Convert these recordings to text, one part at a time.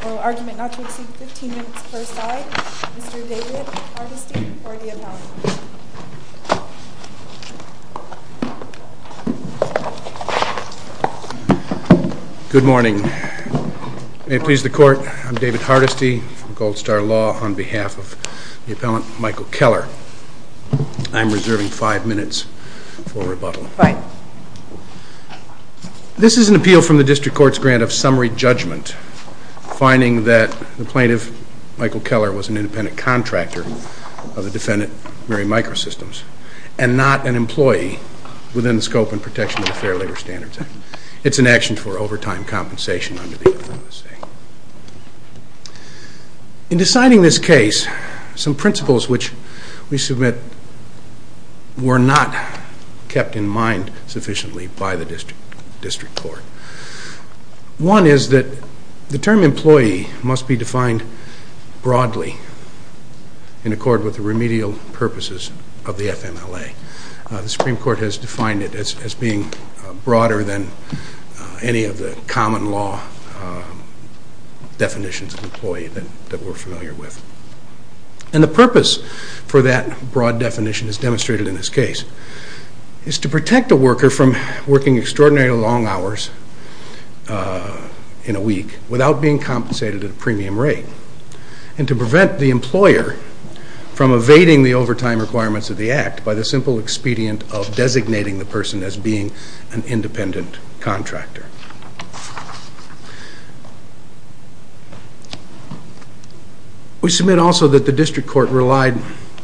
For argument not to exceed 15 minutes per side, Mr. David Hardesty for the appellant. Good morning. May it please the court, I'm David Hardesty from Gold Star Law on behalf of the appellant Michael Keller. I'm reserving five minutes for rebuttal. This is an appeal from the district court's grant of summary judgment, finding that the plaintiff, Michael Keller, was an independent contractor of the defendant, Miri Microsystems, and not an employee within the scope and protection of the Fair Labor Standards Act. It's an action for overtime compensation. In deciding this case, some principles which we submit were not kept in mind sufficiently by the district court. One is that the term employee must be defined broadly in accord with the remedial purposes of the FMLA. The Supreme Court has defined it as being broader than any of the common law definitions of employee that we're familiar with. And the purpose for that broad definition is demonstrated in this case. It's to protect a worker from working extraordinary long hours in a week without being compensated at a premium rate. And to prevent the employer from evading the overtime requirements of the act by the simple expedient of designating the person as being an independent contractor. We submit also that the district court relied,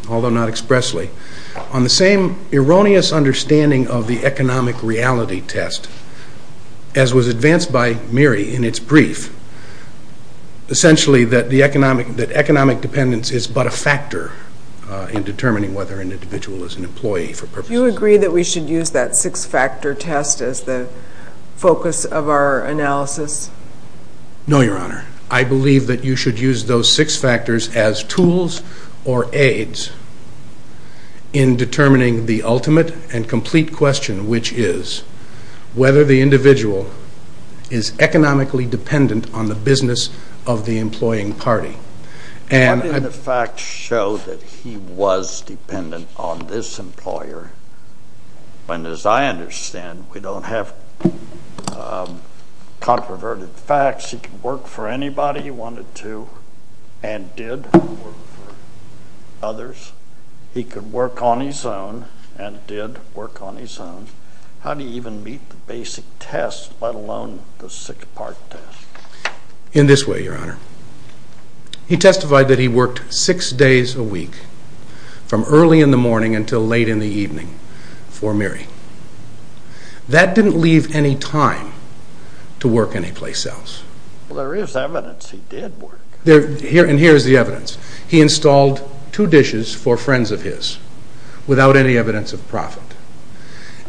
although not expressly, on the same erroneous understanding of the economic reality test as was advanced by Miri in its brief. Essentially, that economic dependence is but a factor in determining whether an individual is an employee for purposes. Do you agree that we should use that six-factor test as the focus of our analysis? No, Your Honor. I believe that you should use those six factors as tools or aids in determining the ultimate and complete question, which is, whether the individual is economically dependent on the business of the employing party. Why didn't the facts show that he was dependent on this employer when, as I understand, we don't have controverted facts? He could work for anybody he wanted to and did work for others. He could work on his own and did work on his own. How do you even meet the basic test, let alone the six-part test? In this way, Your Honor. He testified that he worked six days a week from early in the morning until late in the evening for Miri. That didn't leave any time to work anyplace else. Well, there is evidence he did work. And here is the evidence. He installed two dishes for friends of his without any evidence of profit.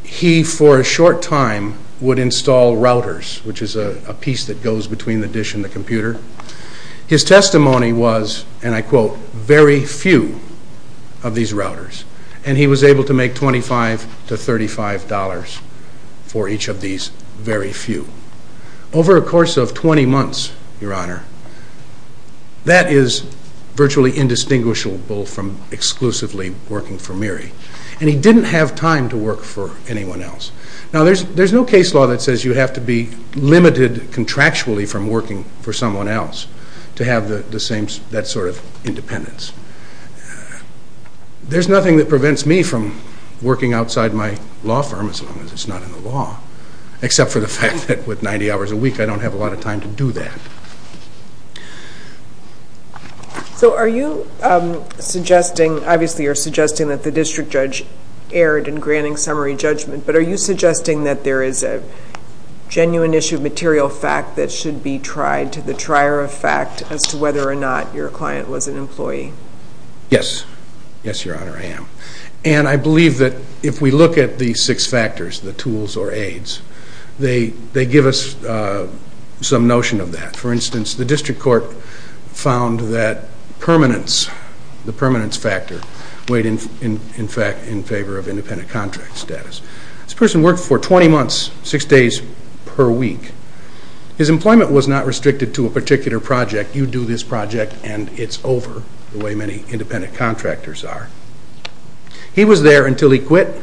He, for a short time, would install routers, which is a piece that goes between the dish and the computer. His testimony was, and I quote, very few of these routers. And he was able to make $25 to $35 for each of these very few. Over a course of 20 months, Your Honor, that is virtually indistinguishable from exclusively working for Miri. And he didn't have time to work for anyone else. Now, there is no case law that says you have to be limited contractually from working for someone else to have that sort of independence. There is nothing that prevents me from working outside my law firm, as long as it is not in the law, except for the fact that with 90 hours a week, I don't have a lot of time to do that. So are you suggesting, obviously you're suggesting that the district judge erred in granting summary judgment, but are you suggesting that there is a genuine issue of material fact that should be tried to the trier of fact as to whether or not your client was an employee? Yes. Yes, Your Honor, I am. And I believe that if we look at the six factors, the tools or aids, they give us some notion of that. For instance, the district court found that permanence, the permanence factor, weighed in favor of independent contract status. This person worked for 20 months, six days per week. His employment was not restricted to a particular project. You do this project and it's over, the way many independent contractors are. He was there until he quit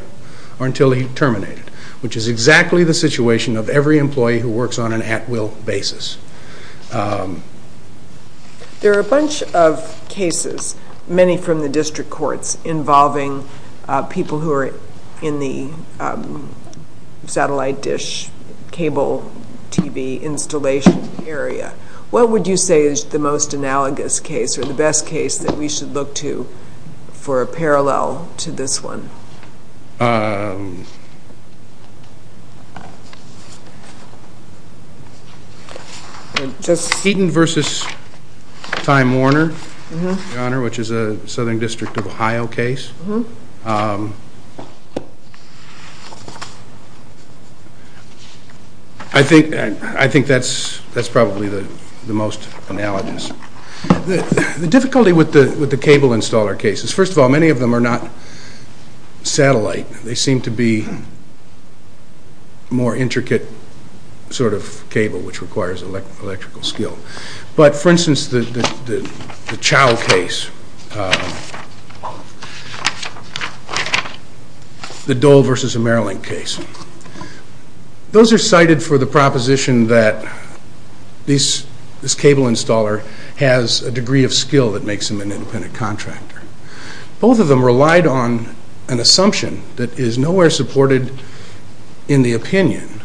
or until he terminated, which is exactly the situation of every employee who works on an at-will basis. There are a bunch of cases, many from the district courts, involving people who are in the satellite dish cable TV installation area. What would you say is the most analogous case or the best case that we should look to for a parallel to this one? Heaton v. Time Warner, Your Honor, which is a Southern District of Ohio case. I think that's probably the most analogous. The difficulty with the cable installer cases, first of all, many of them are not satellite. They seem to be more intricate sort of cable, which requires electrical skill. For instance, the Chow case, the Dole v. Maryland case. Those are cited for the proposition that this cable installer has a degree of skill that makes him an independent contractor. Both of them relied on an assumption that is nowhere supported in the opinion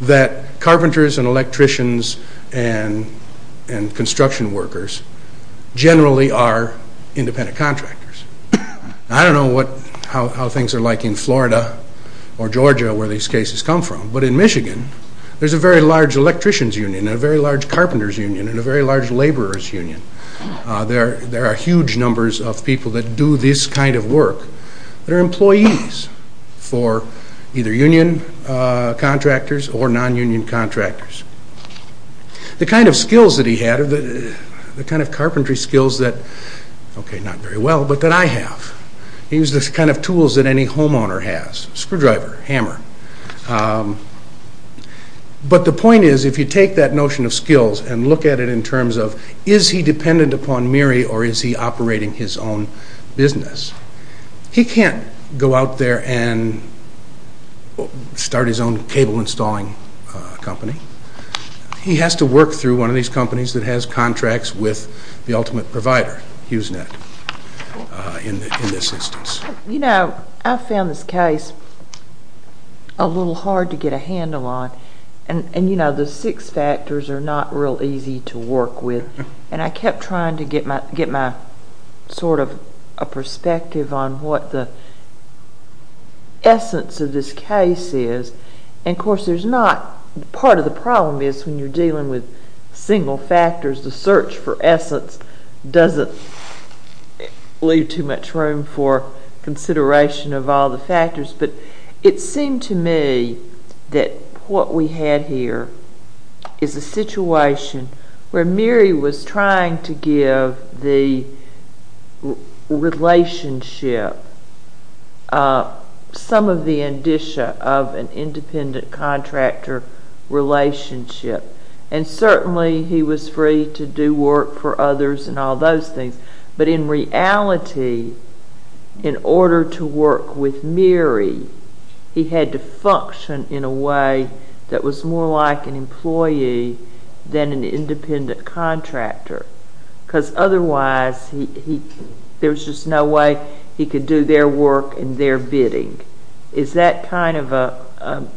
that carpenters and electricians and construction workers generally are independent contractors. I don't know how things are like in Florida or Georgia where these cases come from, but in Michigan, there's a very large electrician's union and a very large carpenter's union and a very large laborer's union. There are huge numbers of people that do this kind of work. They're employees for either union contractors or non-union contractors. The kind of skills that he had, the kind of carpentry skills that, okay, not very well, but that I have. He used the kind of tools that any homeowner has, screwdriver, hammer. But the point is, if you take that notion of skills and look at it in terms of, is he dependent upon Meary or is he operating his own business? He can't go out there and start his own cable installing company. He has to work through one of these companies that has contracts with the ultimate provider, HughesNet, in this instance. I found this case a little hard to get a handle on. The six factors are not real easy to work with, and I kept trying to get my perspective on what the essence of this case is. Of course, part of the problem is when you're dealing with single factors, the search for essence doesn't leave too much room for consideration of all the factors. But it seemed to me that what we had here is a situation where Meary was trying to give the relationship some of the indicia of an independent contractor relationship. And certainly, he was free to do work for others and all those things. But in reality, in order to work with Meary, he had to function in a way that was more like an employee than an independent contractor. Because otherwise, there's just no way he could do their work and their bidding. Is that kind of a...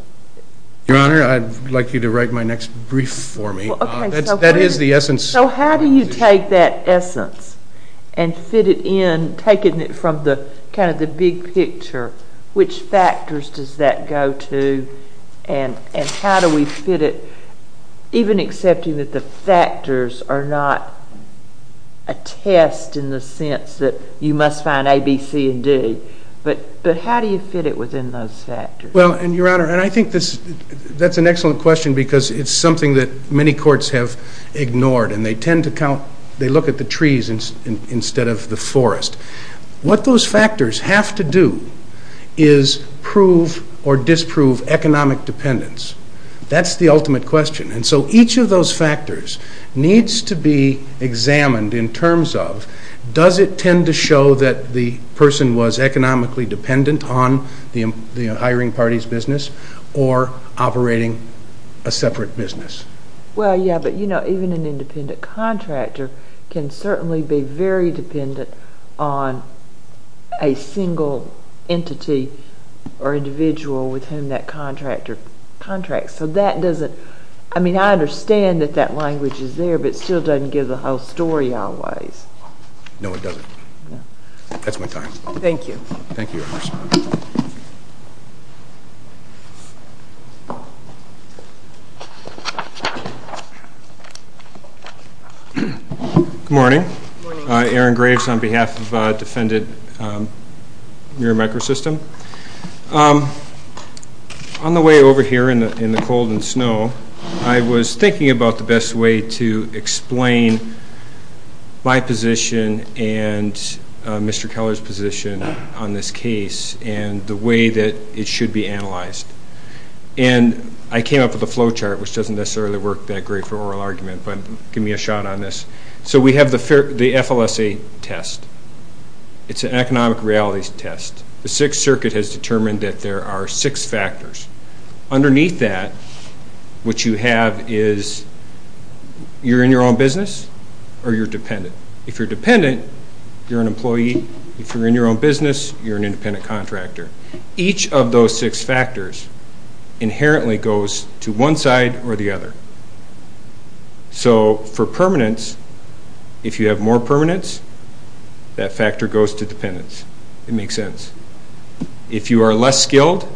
Your Honor, I'd like you to write my next brief for me. That is the essence. So how do you take that essence and fit it in, taking it from kind of the big picture? Which factors does that go to, and how do we fit it, even accepting that the factors are not a test in the sense that you must find A, B, C, and D? But how do you fit it within those factors? Well, Your Honor, I think that's an excellent question because it's something that many courts have ignored, and they tend to look at the trees instead of the forest. What those factors have to do is prove or disprove economic dependence. That's the ultimate question. And so each of those factors needs to be examined in terms of Does it tend to show that the person was economically dependent on the hiring party's business or operating a separate business? Well, yeah, but, you know, even an independent contractor can certainly be very dependent on a single entity or individual with whom that contractor contracts. I mean, I understand that that language is there, but it still doesn't give the whole story always. No, it doesn't. That's my time. Thank you. Thank you, Your Honor. Good morning. Good morning. Aaron Graves on behalf of Defendant Muir Microsystem. On the way over here in the cold and snow, I was thinking about the best way to explain my position and Mr. Keller's position on this case and the way that it should be analyzed. And I came up with a flow chart, which doesn't necessarily work that great for oral argument, but give me a shot on this. So we have the FLSA test. It's an economic realities test. The Sixth Circuit has determined that there are six factors. Underneath that, what you have is you're in your own business or you're dependent. If you're dependent, you're an employee. If you're in your own business, you're an independent contractor. Each of those six factors inherently goes to one side or the other. So for permanence, if you have more permanence, that factor goes to dependence. It makes sense. If you are less skilled,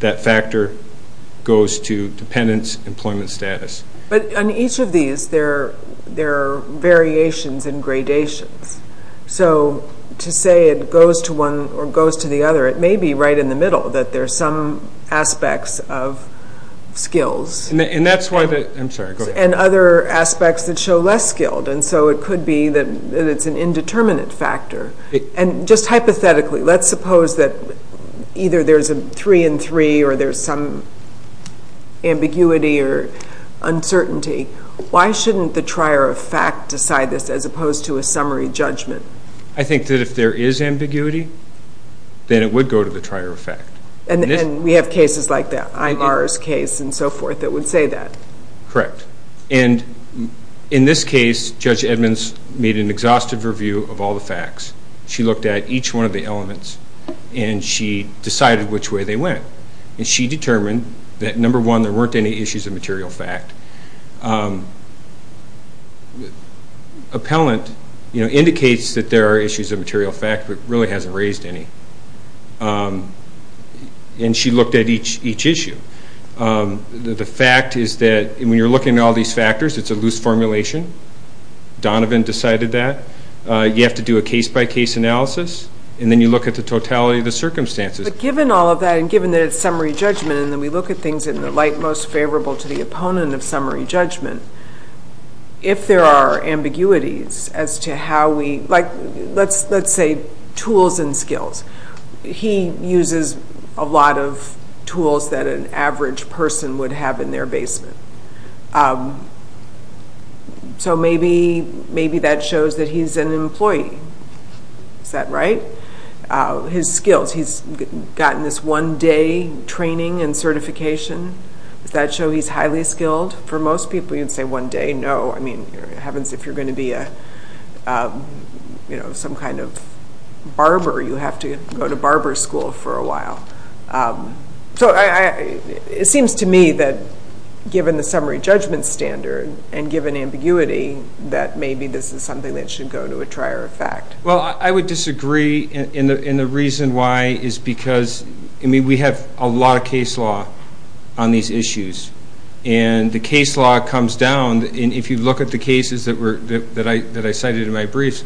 that factor goes to dependence, employment status. But on each of these, there are variations and gradations. So to say it goes to one or goes to the other, it may be right in the middle, that there are some aspects of skills and other aspects that show less skilled. And so it could be that it's an indeterminate factor. And just hypothetically, let's suppose that either there's a 3-in-3 or there's some ambiguity or uncertainty. Why shouldn't the trier of fact decide this as opposed to a summary judgment? I think that if there is ambiguity, then it would go to the trier of fact. And we have cases like that, Ivar's case and so forth, that would say that. Correct. And in this case, Judge Edmonds made an exhaustive review of all the facts. She looked at each one of the elements, and she decided which way they went. And she determined that, number one, there weren't any issues of material fact. Appellant indicates that there are issues of material fact, but really hasn't raised any. And she looked at each issue. The fact is that when you're looking at all these factors, it's a loose formulation. Donovan decided that. You have to do a case-by-case analysis, and then you look at the totality of the circumstances. But given all of that, and given that it's summary judgment, and then we look at things in the light most favorable to the opponent of summary judgment, if there are ambiguities as to how we, like let's say tools and skills. He uses a lot of tools that an average person would have in their basement. So maybe that shows that he's an employee. Is that right? His skills, he's gotten this one-day training and certification. Does that show he's highly skilled? For most people, you'd say one day. It happens if you're going to be some kind of barber. You have to go to barber school for a while. So it seems to me that given the summary judgment standard and given ambiguity, that maybe this is something that should go to a trier of fact. Well, I would disagree, and the reason why is because we have a lot of case law on these issues. And the case law comes down, and if you look at the cases that I cited in my briefs,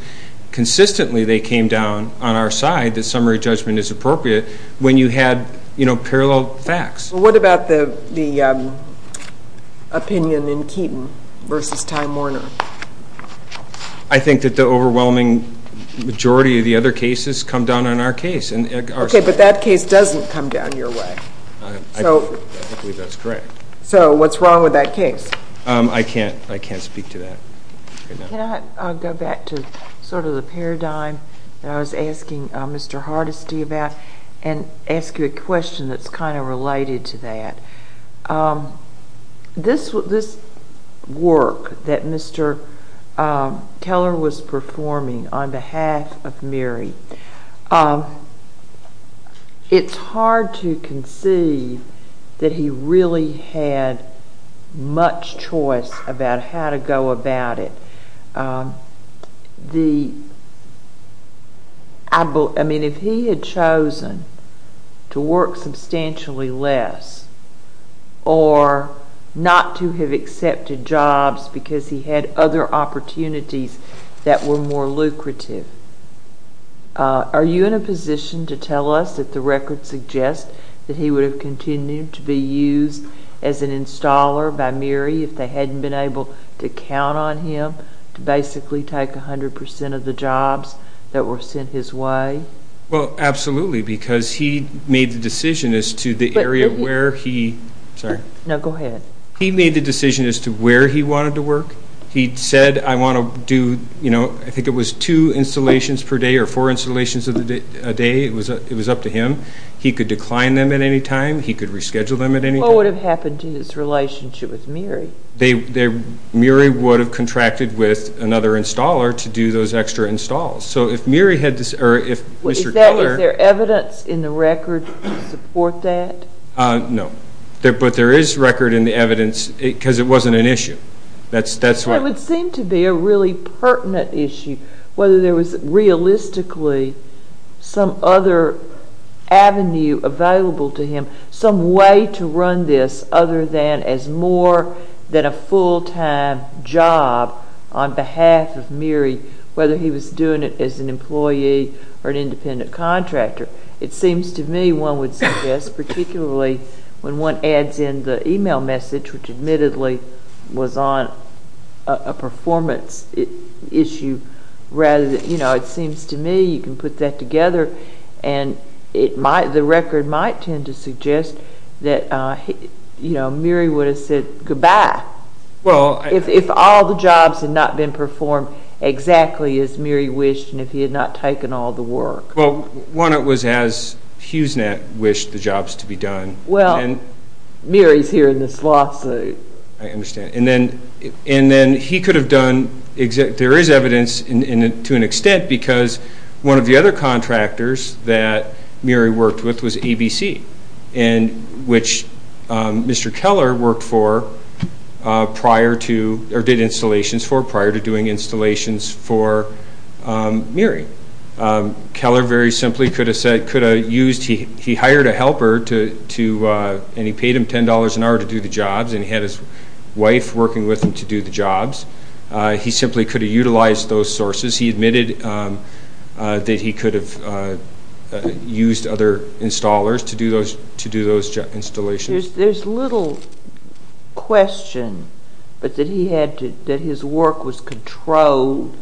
consistently they came down on our side that summary judgment is appropriate when you had parallel facts. Well, what about the opinion in Keaton versus Ty Morner? I think that the overwhelming majority of the other cases come down on our case. Okay, but that case doesn't come down your way. I believe that's correct. So what's wrong with that case? I can't speak to that right now. Can I go back to sort of the paradigm that I was asking Mr. Hardesty about and ask you a question that's kind of related to that? This work that Mr. Keller was performing on behalf of Mary, it's hard to conceive that he really had much choice about how to go about it. I mean, if he had chosen to work substantially less or not to have accepted jobs because he had other opportunities that were more lucrative, are you in a position to tell us that the record suggests that he would have continued to be used as an installer by Mary if they hadn't been able to count on him to basically take 100 percent of the jobs that were sent his way? Well, absolutely, because he made the decision as to where he wanted to work. He said, I want to do, I think it was two installations per day or four installations a day. It was up to him. He could decline them at any time. He could reschedule them at any time. What would have happened to his relationship with Mary? Mary would have contracted with another installer to do those extra installs. Is there evidence in the record to support that? No, but there is record in the evidence because it wasn't an issue. It would seem to be a really pertinent issue whether there was realistically some other avenue available to him, some way to run this other than as more than a full-time job on behalf of Mary, whether he was doing it as an employee or an independent contractor. It seems to me one would suggest, particularly when one adds in the email message, which admittedly was on a performance issue rather than, you know, it seems to me you can put that together and the record might tend to suggest that Mary would have said goodbye. If all the jobs had not been performed exactly as Mary wished and if he had not taken all the work. Well, one, it was as HughesNet wished the jobs to be done. Well, Mary is here in this lawsuit. I understand. And then he could have done – there is evidence to an extent because one of the other contractors that Mary worked with was ABC, which Mr. Keller worked for prior to – or did installations for prior to doing installations for Mary. Keller very simply could have said – could have used – he hired a helper to – and he paid him $10 an hour to do the jobs and he had his wife working with him to do the jobs. He simply could have utilized those sources. He admitted that he could have used other installers to do those installations. There is little question but that he had to – that his work was controlled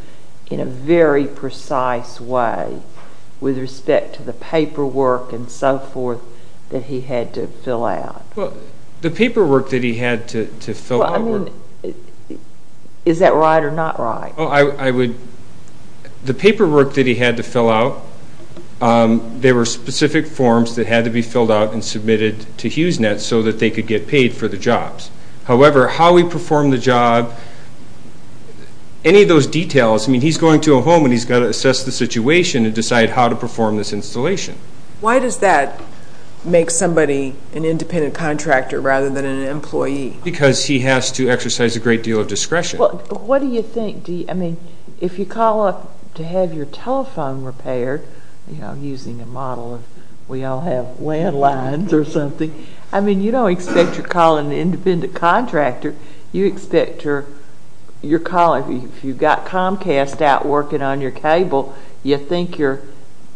in a very precise way with respect to the paperwork and so forth that he had to fill out. Well, the paperwork that he had to fill out – Well, I mean, is that right or not right? Well, I would – the paperwork that he had to fill out, there were specific forms that had to be filled out and submitted to HughesNet so that they could get paid for the jobs. However, how he performed the job, any of those details – I mean, he's going to a home and he's got to assess the situation and decide how to perform this installation. Why does that make somebody an independent contractor rather than an employee? Because he has to exercise a great deal of discretion. But what do you think – I mean, if you call up to have your telephone repaired, you know, using a model of we all have landlines or something, I mean, you don't expect you're calling an independent contractor. You expect you're calling – if you've got Comcast out working on your cable, you think you're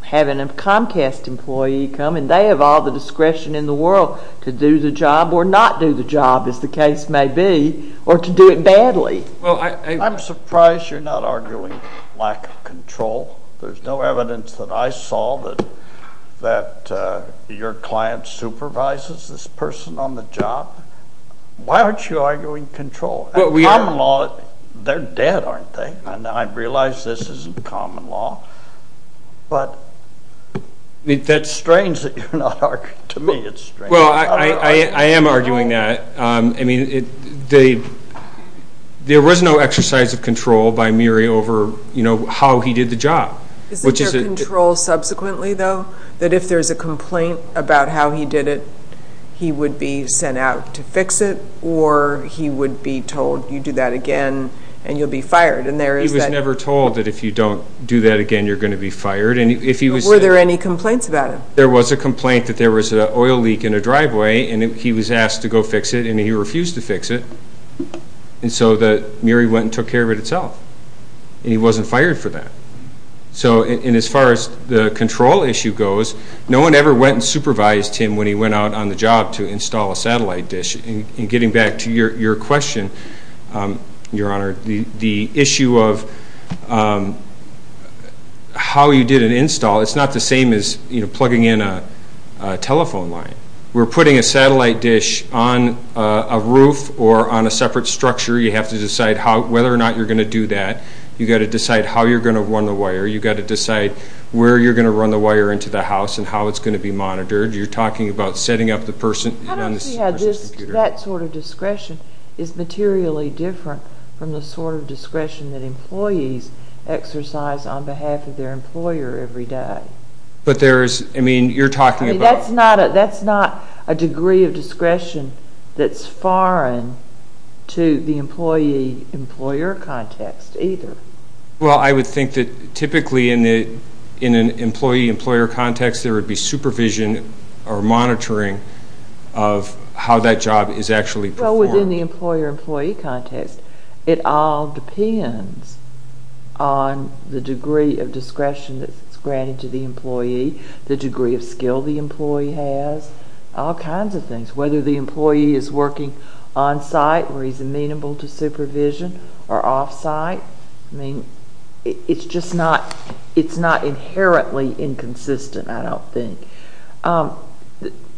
having a Comcast employee come and they have all the discretion in the world to do the job or not do the job, as the case may be, or to do it badly. Well, I – I'm surprised you're not arguing lack of control. There's no evidence that I saw that your client supervises this person on the job. Why aren't you arguing control? In common law, they're dead, aren't they? And I realize this isn't common law. But that's strange that you're not arguing – to me it's strange. Well, I am arguing that. I mean, there was no exercise of control by Murray over, you know, how he did the job. Isn't there control subsequently, though, that if there's a complaint about how he did it, he would be sent out to fix it or he would be told, you do that again and you'll be fired? He was never told that if you don't do that again, you're going to be fired. Were there any complaints about it? There was a complaint that there was an oil leak in a driveway and he was asked to go fix it and he refused to fix it. And so Murray went and took care of it himself. And he wasn't fired for that. So as far as the control issue goes, no one ever went and supervised him when he went out on the job to install a satellite dish. And getting back to your question, Your Honor, the issue of how you did an install, it's not the same as plugging in a telephone line. We're putting a satellite dish on a roof or on a separate structure. You have to decide whether or not you're going to do that. You've got to decide how you're going to run the wire. You've got to decide where you're going to run the wire into the house and how it's going to be monitored. You're talking about setting up the person on the person's computer. I don't see how that sort of discretion is materially different from the sort of discretion that employees exercise on behalf of their employer every day. But there is, I mean, you're talking about... That's not a degree of discretion that's foreign to the employee-employer context either. Well, I would think that typically in an employee-employer context there would be supervision or monitoring of how that job is actually performed. So within the employer-employee context, it all depends on the degree of discretion that's granted to the employee, the degree of skill the employee has, all kinds of things, whether the employee is working on-site where he's amenable to supervision or off-site. I mean, it's just not inherently inconsistent, I don't think.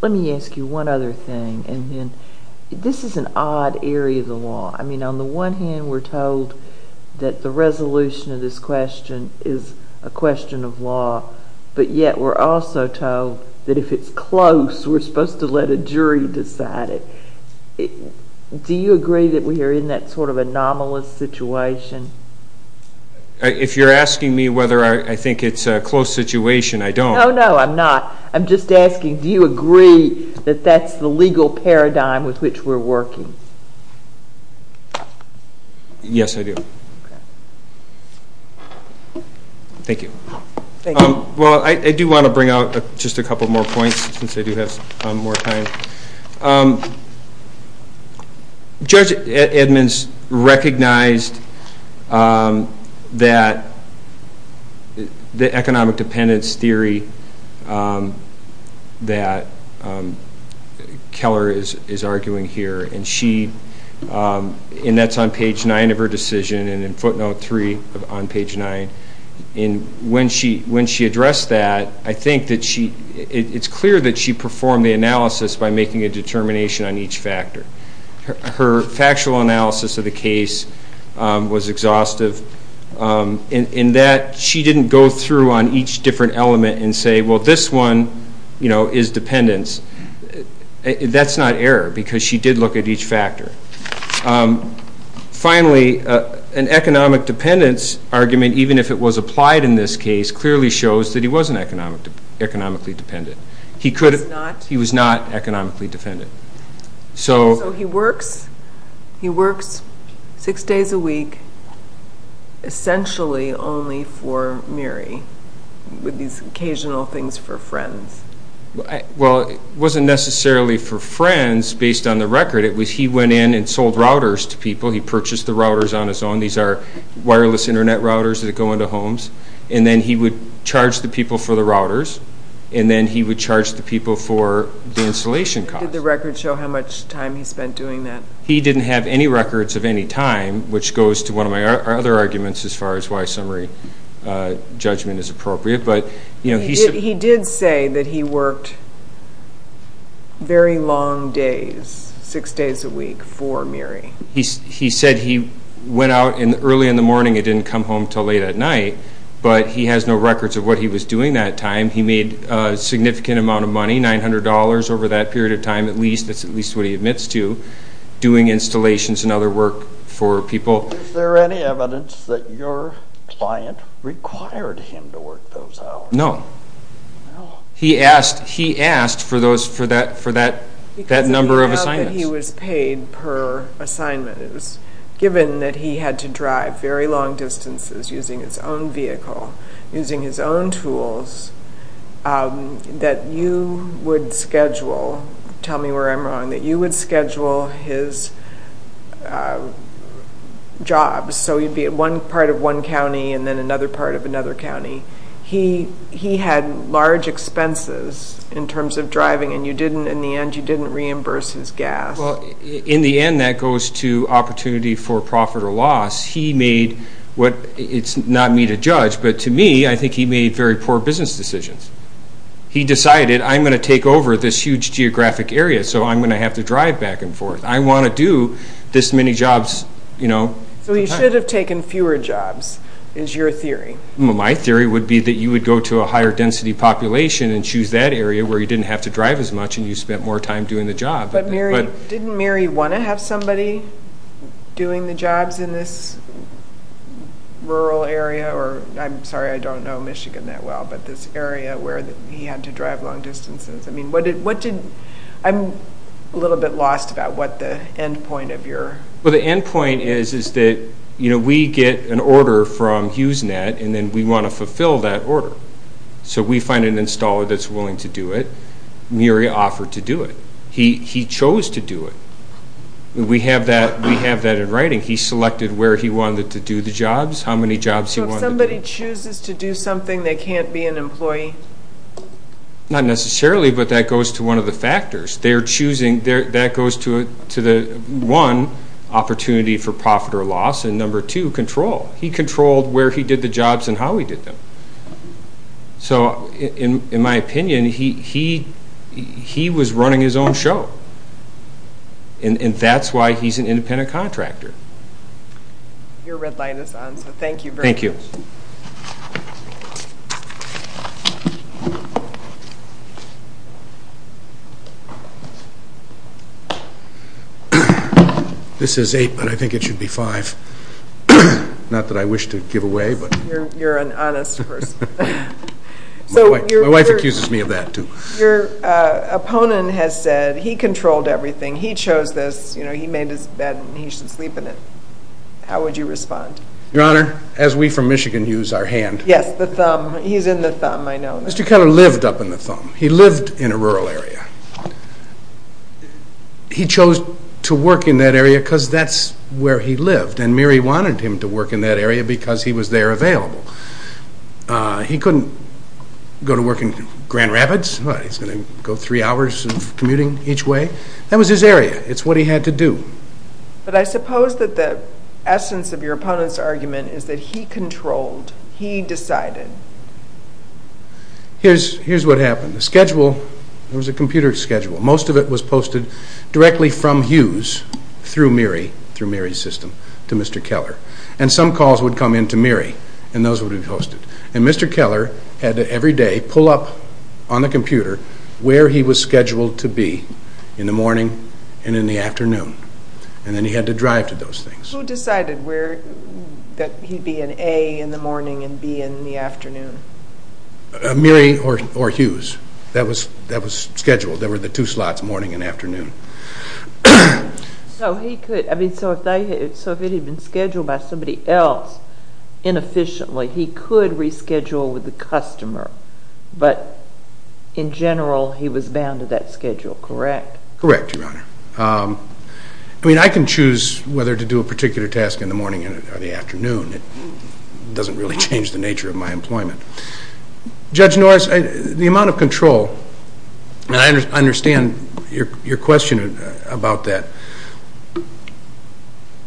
Let me ask you one other thing. This is an odd area of the law. I mean, on the one hand, we're told that the resolution of this question is a question of law, but yet we're also told that if it's close, we're supposed to let a jury decide it. Do you agree that we are in that sort of anomalous situation? If you're asking me whether I think it's a close situation, I don't. No, no, I'm not. Do you agree that that's the legal paradigm with which we're working? Yes, I do. Thank you. Well, I do want to bring out just a couple more points since I do have more time. Judge Edmonds recognized the economic dependence theory that Keller is arguing here, and that's on page 9 of her decision and in footnote 3 on page 9. When she addressed that, I think that it's clear that she performed the analysis by making a determination on each factor. Her factual analysis of the case was exhaustive in that she didn't go through on each different element and say, well, this one is dependence. That's not error because she did look at each factor. Finally, an economic dependence argument, even if it was applied in this case, clearly shows that he wasn't economically dependent. He was not economically dependent. So he works six days a week essentially only for Mary with these occasional things for friends. Well, it wasn't necessarily for friends based on the record. It was he went in and sold routers to people. He purchased the routers on his own. These are wireless Internet routers that go into homes, and then he would charge the people for the routers, and then he would charge the people for the installation costs. Did the record show how much time he spent doing that? He didn't have any records of any time, which goes to one of my other arguments as far as why summary judgment is appropriate. He did say that he worked very long days, six days a week, for Mary. He said he went out early in the morning and didn't come home until late at night, but he has no records of what he was doing that time. He made a significant amount of money, $900 over that period of time at least. That's at least what he admits to doing installations and other work for people. Is there any evidence that your client required him to work those hours? No. He asked for that number of assignments. Because of the amount that he was paid per assignment. It was given that he had to drive very long distances using his own vehicle, using his own tools, that you would schedule, tell me where I'm wrong, that you would schedule his jobs. So he'd be at one part of one county and then another part of another county. He had large expenses in terms of driving, and in the end you didn't reimburse his gas. In the end that goes to opportunity for profit or loss. It's not me to judge, but to me I think he made very poor business decisions. He decided, I'm going to take over this huge geographic area, so I'm going to have to drive back and forth. I want to do this many jobs. So he should have taken fewer jobs is your theory. My theory would be that you would go to a higher density population and choose that area where you didn't have to drive as much and you spent more time doing the job. Didn't Mary want to have somebody doing the jobs in this rural area? I'm sorry, I don't know Michigan that well, but this area where he had to drive long distances. I'm a little bit lost about what the end point of your... The end point is that we get an order from HughesNet and then we want to fulfill that order. So we find an installer that's willing to do it. Mary offered to do it. He chose to do it. We have that in writing. He selected where he wanted to do the jobs, how many jobs he wanted to do. So if somebody chooses to do something, they can't be an employee? Not necessarily, but that goes to one of the factors. That goes to the one, opportunity for profit or loss, and number two, control. He controlled where he did the jobs and how he did them. So in my opinion, he was running his own show, and that's why he's an independent contractor. Your red light is on, so thank you very much. Thank you. This is eight, but I think it should be five. Not that I wish to give away, but... You're an honest person. My wife accuses me of that, too. Your opponent has said he controlled everything. He chose this. He made his bed and he should sleep in it. How would you respond? Your Honor, as we from Michigan use our hand. Yes, the thumb. He's in the thumb, I know. Mr. Keller lived up in the thumb. He lived in a rural area. He chose to work in that area because that's where he lived, and Mary wanted him to work in that area because he was there available. He couldn't go to work in Grand Rapids. He's going to go three hours of commuting each way. That was his area. It's what he had to do. But I suppose that the essence of your opponent's argument is that he controlled. He decided. Here's what happened. The schedule, it was a computer schedule. Most of it was posted directly from Hughes through Mary's system to Mr. Keller. Some calls would come in to Mary and those would be posted. Mr. Keller had to every day pull up on the computer where he was scheduled to be in the morning and in the afternoon. Then he had to drive to those things. Who decided that he'd be in A in the morning and B in the afternoon? Mary or Hughes. That was scheduled. They were the two slots, morning and afternoon. So if it had been scheduled by somebody else inefficiently, he could reschedule with the customer, but in general he was bound to that schedule, correct? Correct, Your Honor. I can choose whether to do a particular task in the morning or the afternoon. It doesn't really change the nature of my employment. Judge Norris, the amount of control, and I understand your question about that.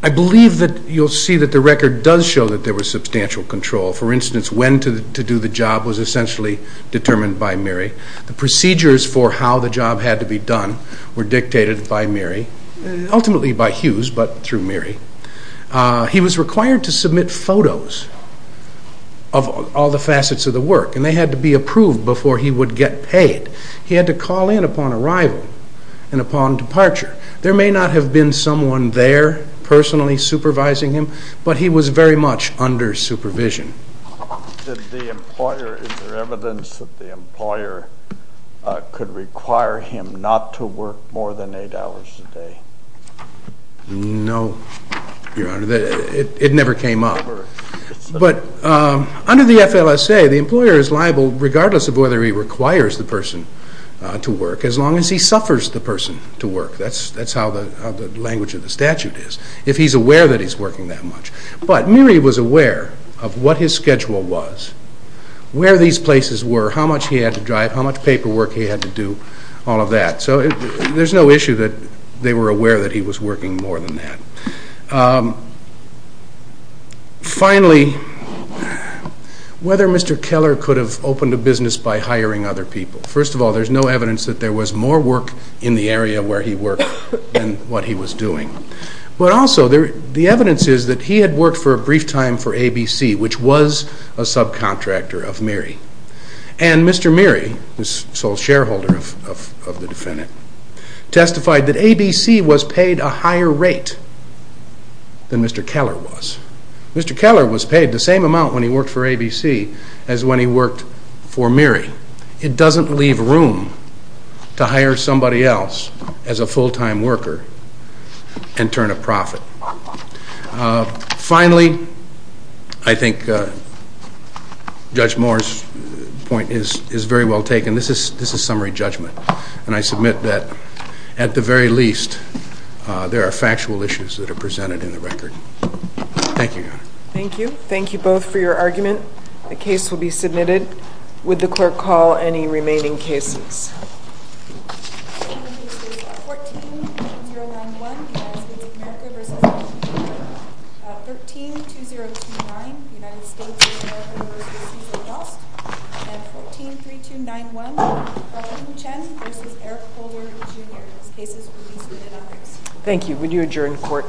I believe that you'll see that the record does show that there was substantial control. For instance, when to do the job was essentially determined by Mary. The procedures for how the job had to be done were dictated by Mary, ultimately by Hughes but through Mary. He was required to submit photos of all the facets of the work and they had to be approved before he would get paid. He had to call in upon arrival and upon departure. There may not have been someone there personally supervising him, but he was very much under supervision. Is there evidence that the employer could require him not to work more than eight hours a day? No, Your Honor. It never came up. Under the FLSA, the employer is liable regardless of whether he requires the person to work as long as he suffers the person to work. That's how the language of the statute is, if he's aware that he's working that much. But Mary was aware of what his schedule was, where these places were, how much he had to drive, how much paperwork he had to do, all of that. So there's no issue that they were aware that he was working more than that. Finally, whether Mr. Keller could have opened a business by hiring other people? First of all, there's no evidence that there was more work in the area where he worked than what he was doing. But also, the evidence is that he had worked for a brief time for ABC, which was a subcontractor of Mary. And Mr. Mary, the sole shareholder of the defendant, testified that ABC was paid a higher rate than Mr. Keller was. Mr. Keller was paid the same amount when he worked for ABC as when he worked for Mary. It doesn't leave room to hire somebody else as a full-time worker and turn a profit. Finally, I think Judge Moore's point is very well taken. This is summary judgment. And I submit that, at the very least, there are factual issues that are presented in the record. Thank you, Your Honor. Thank you. Thank you both for your argument. The case will be submitted. Would the Court call any remaining cases? The remaining cases are 14-2091, United States of America v. Washington, D.C. 13-2029, United States of America v. Washington, D.C. and 14-3291, Harlan Chen v. Eric Holder, Jr., cases released within ethics. Would you adjourn the Court?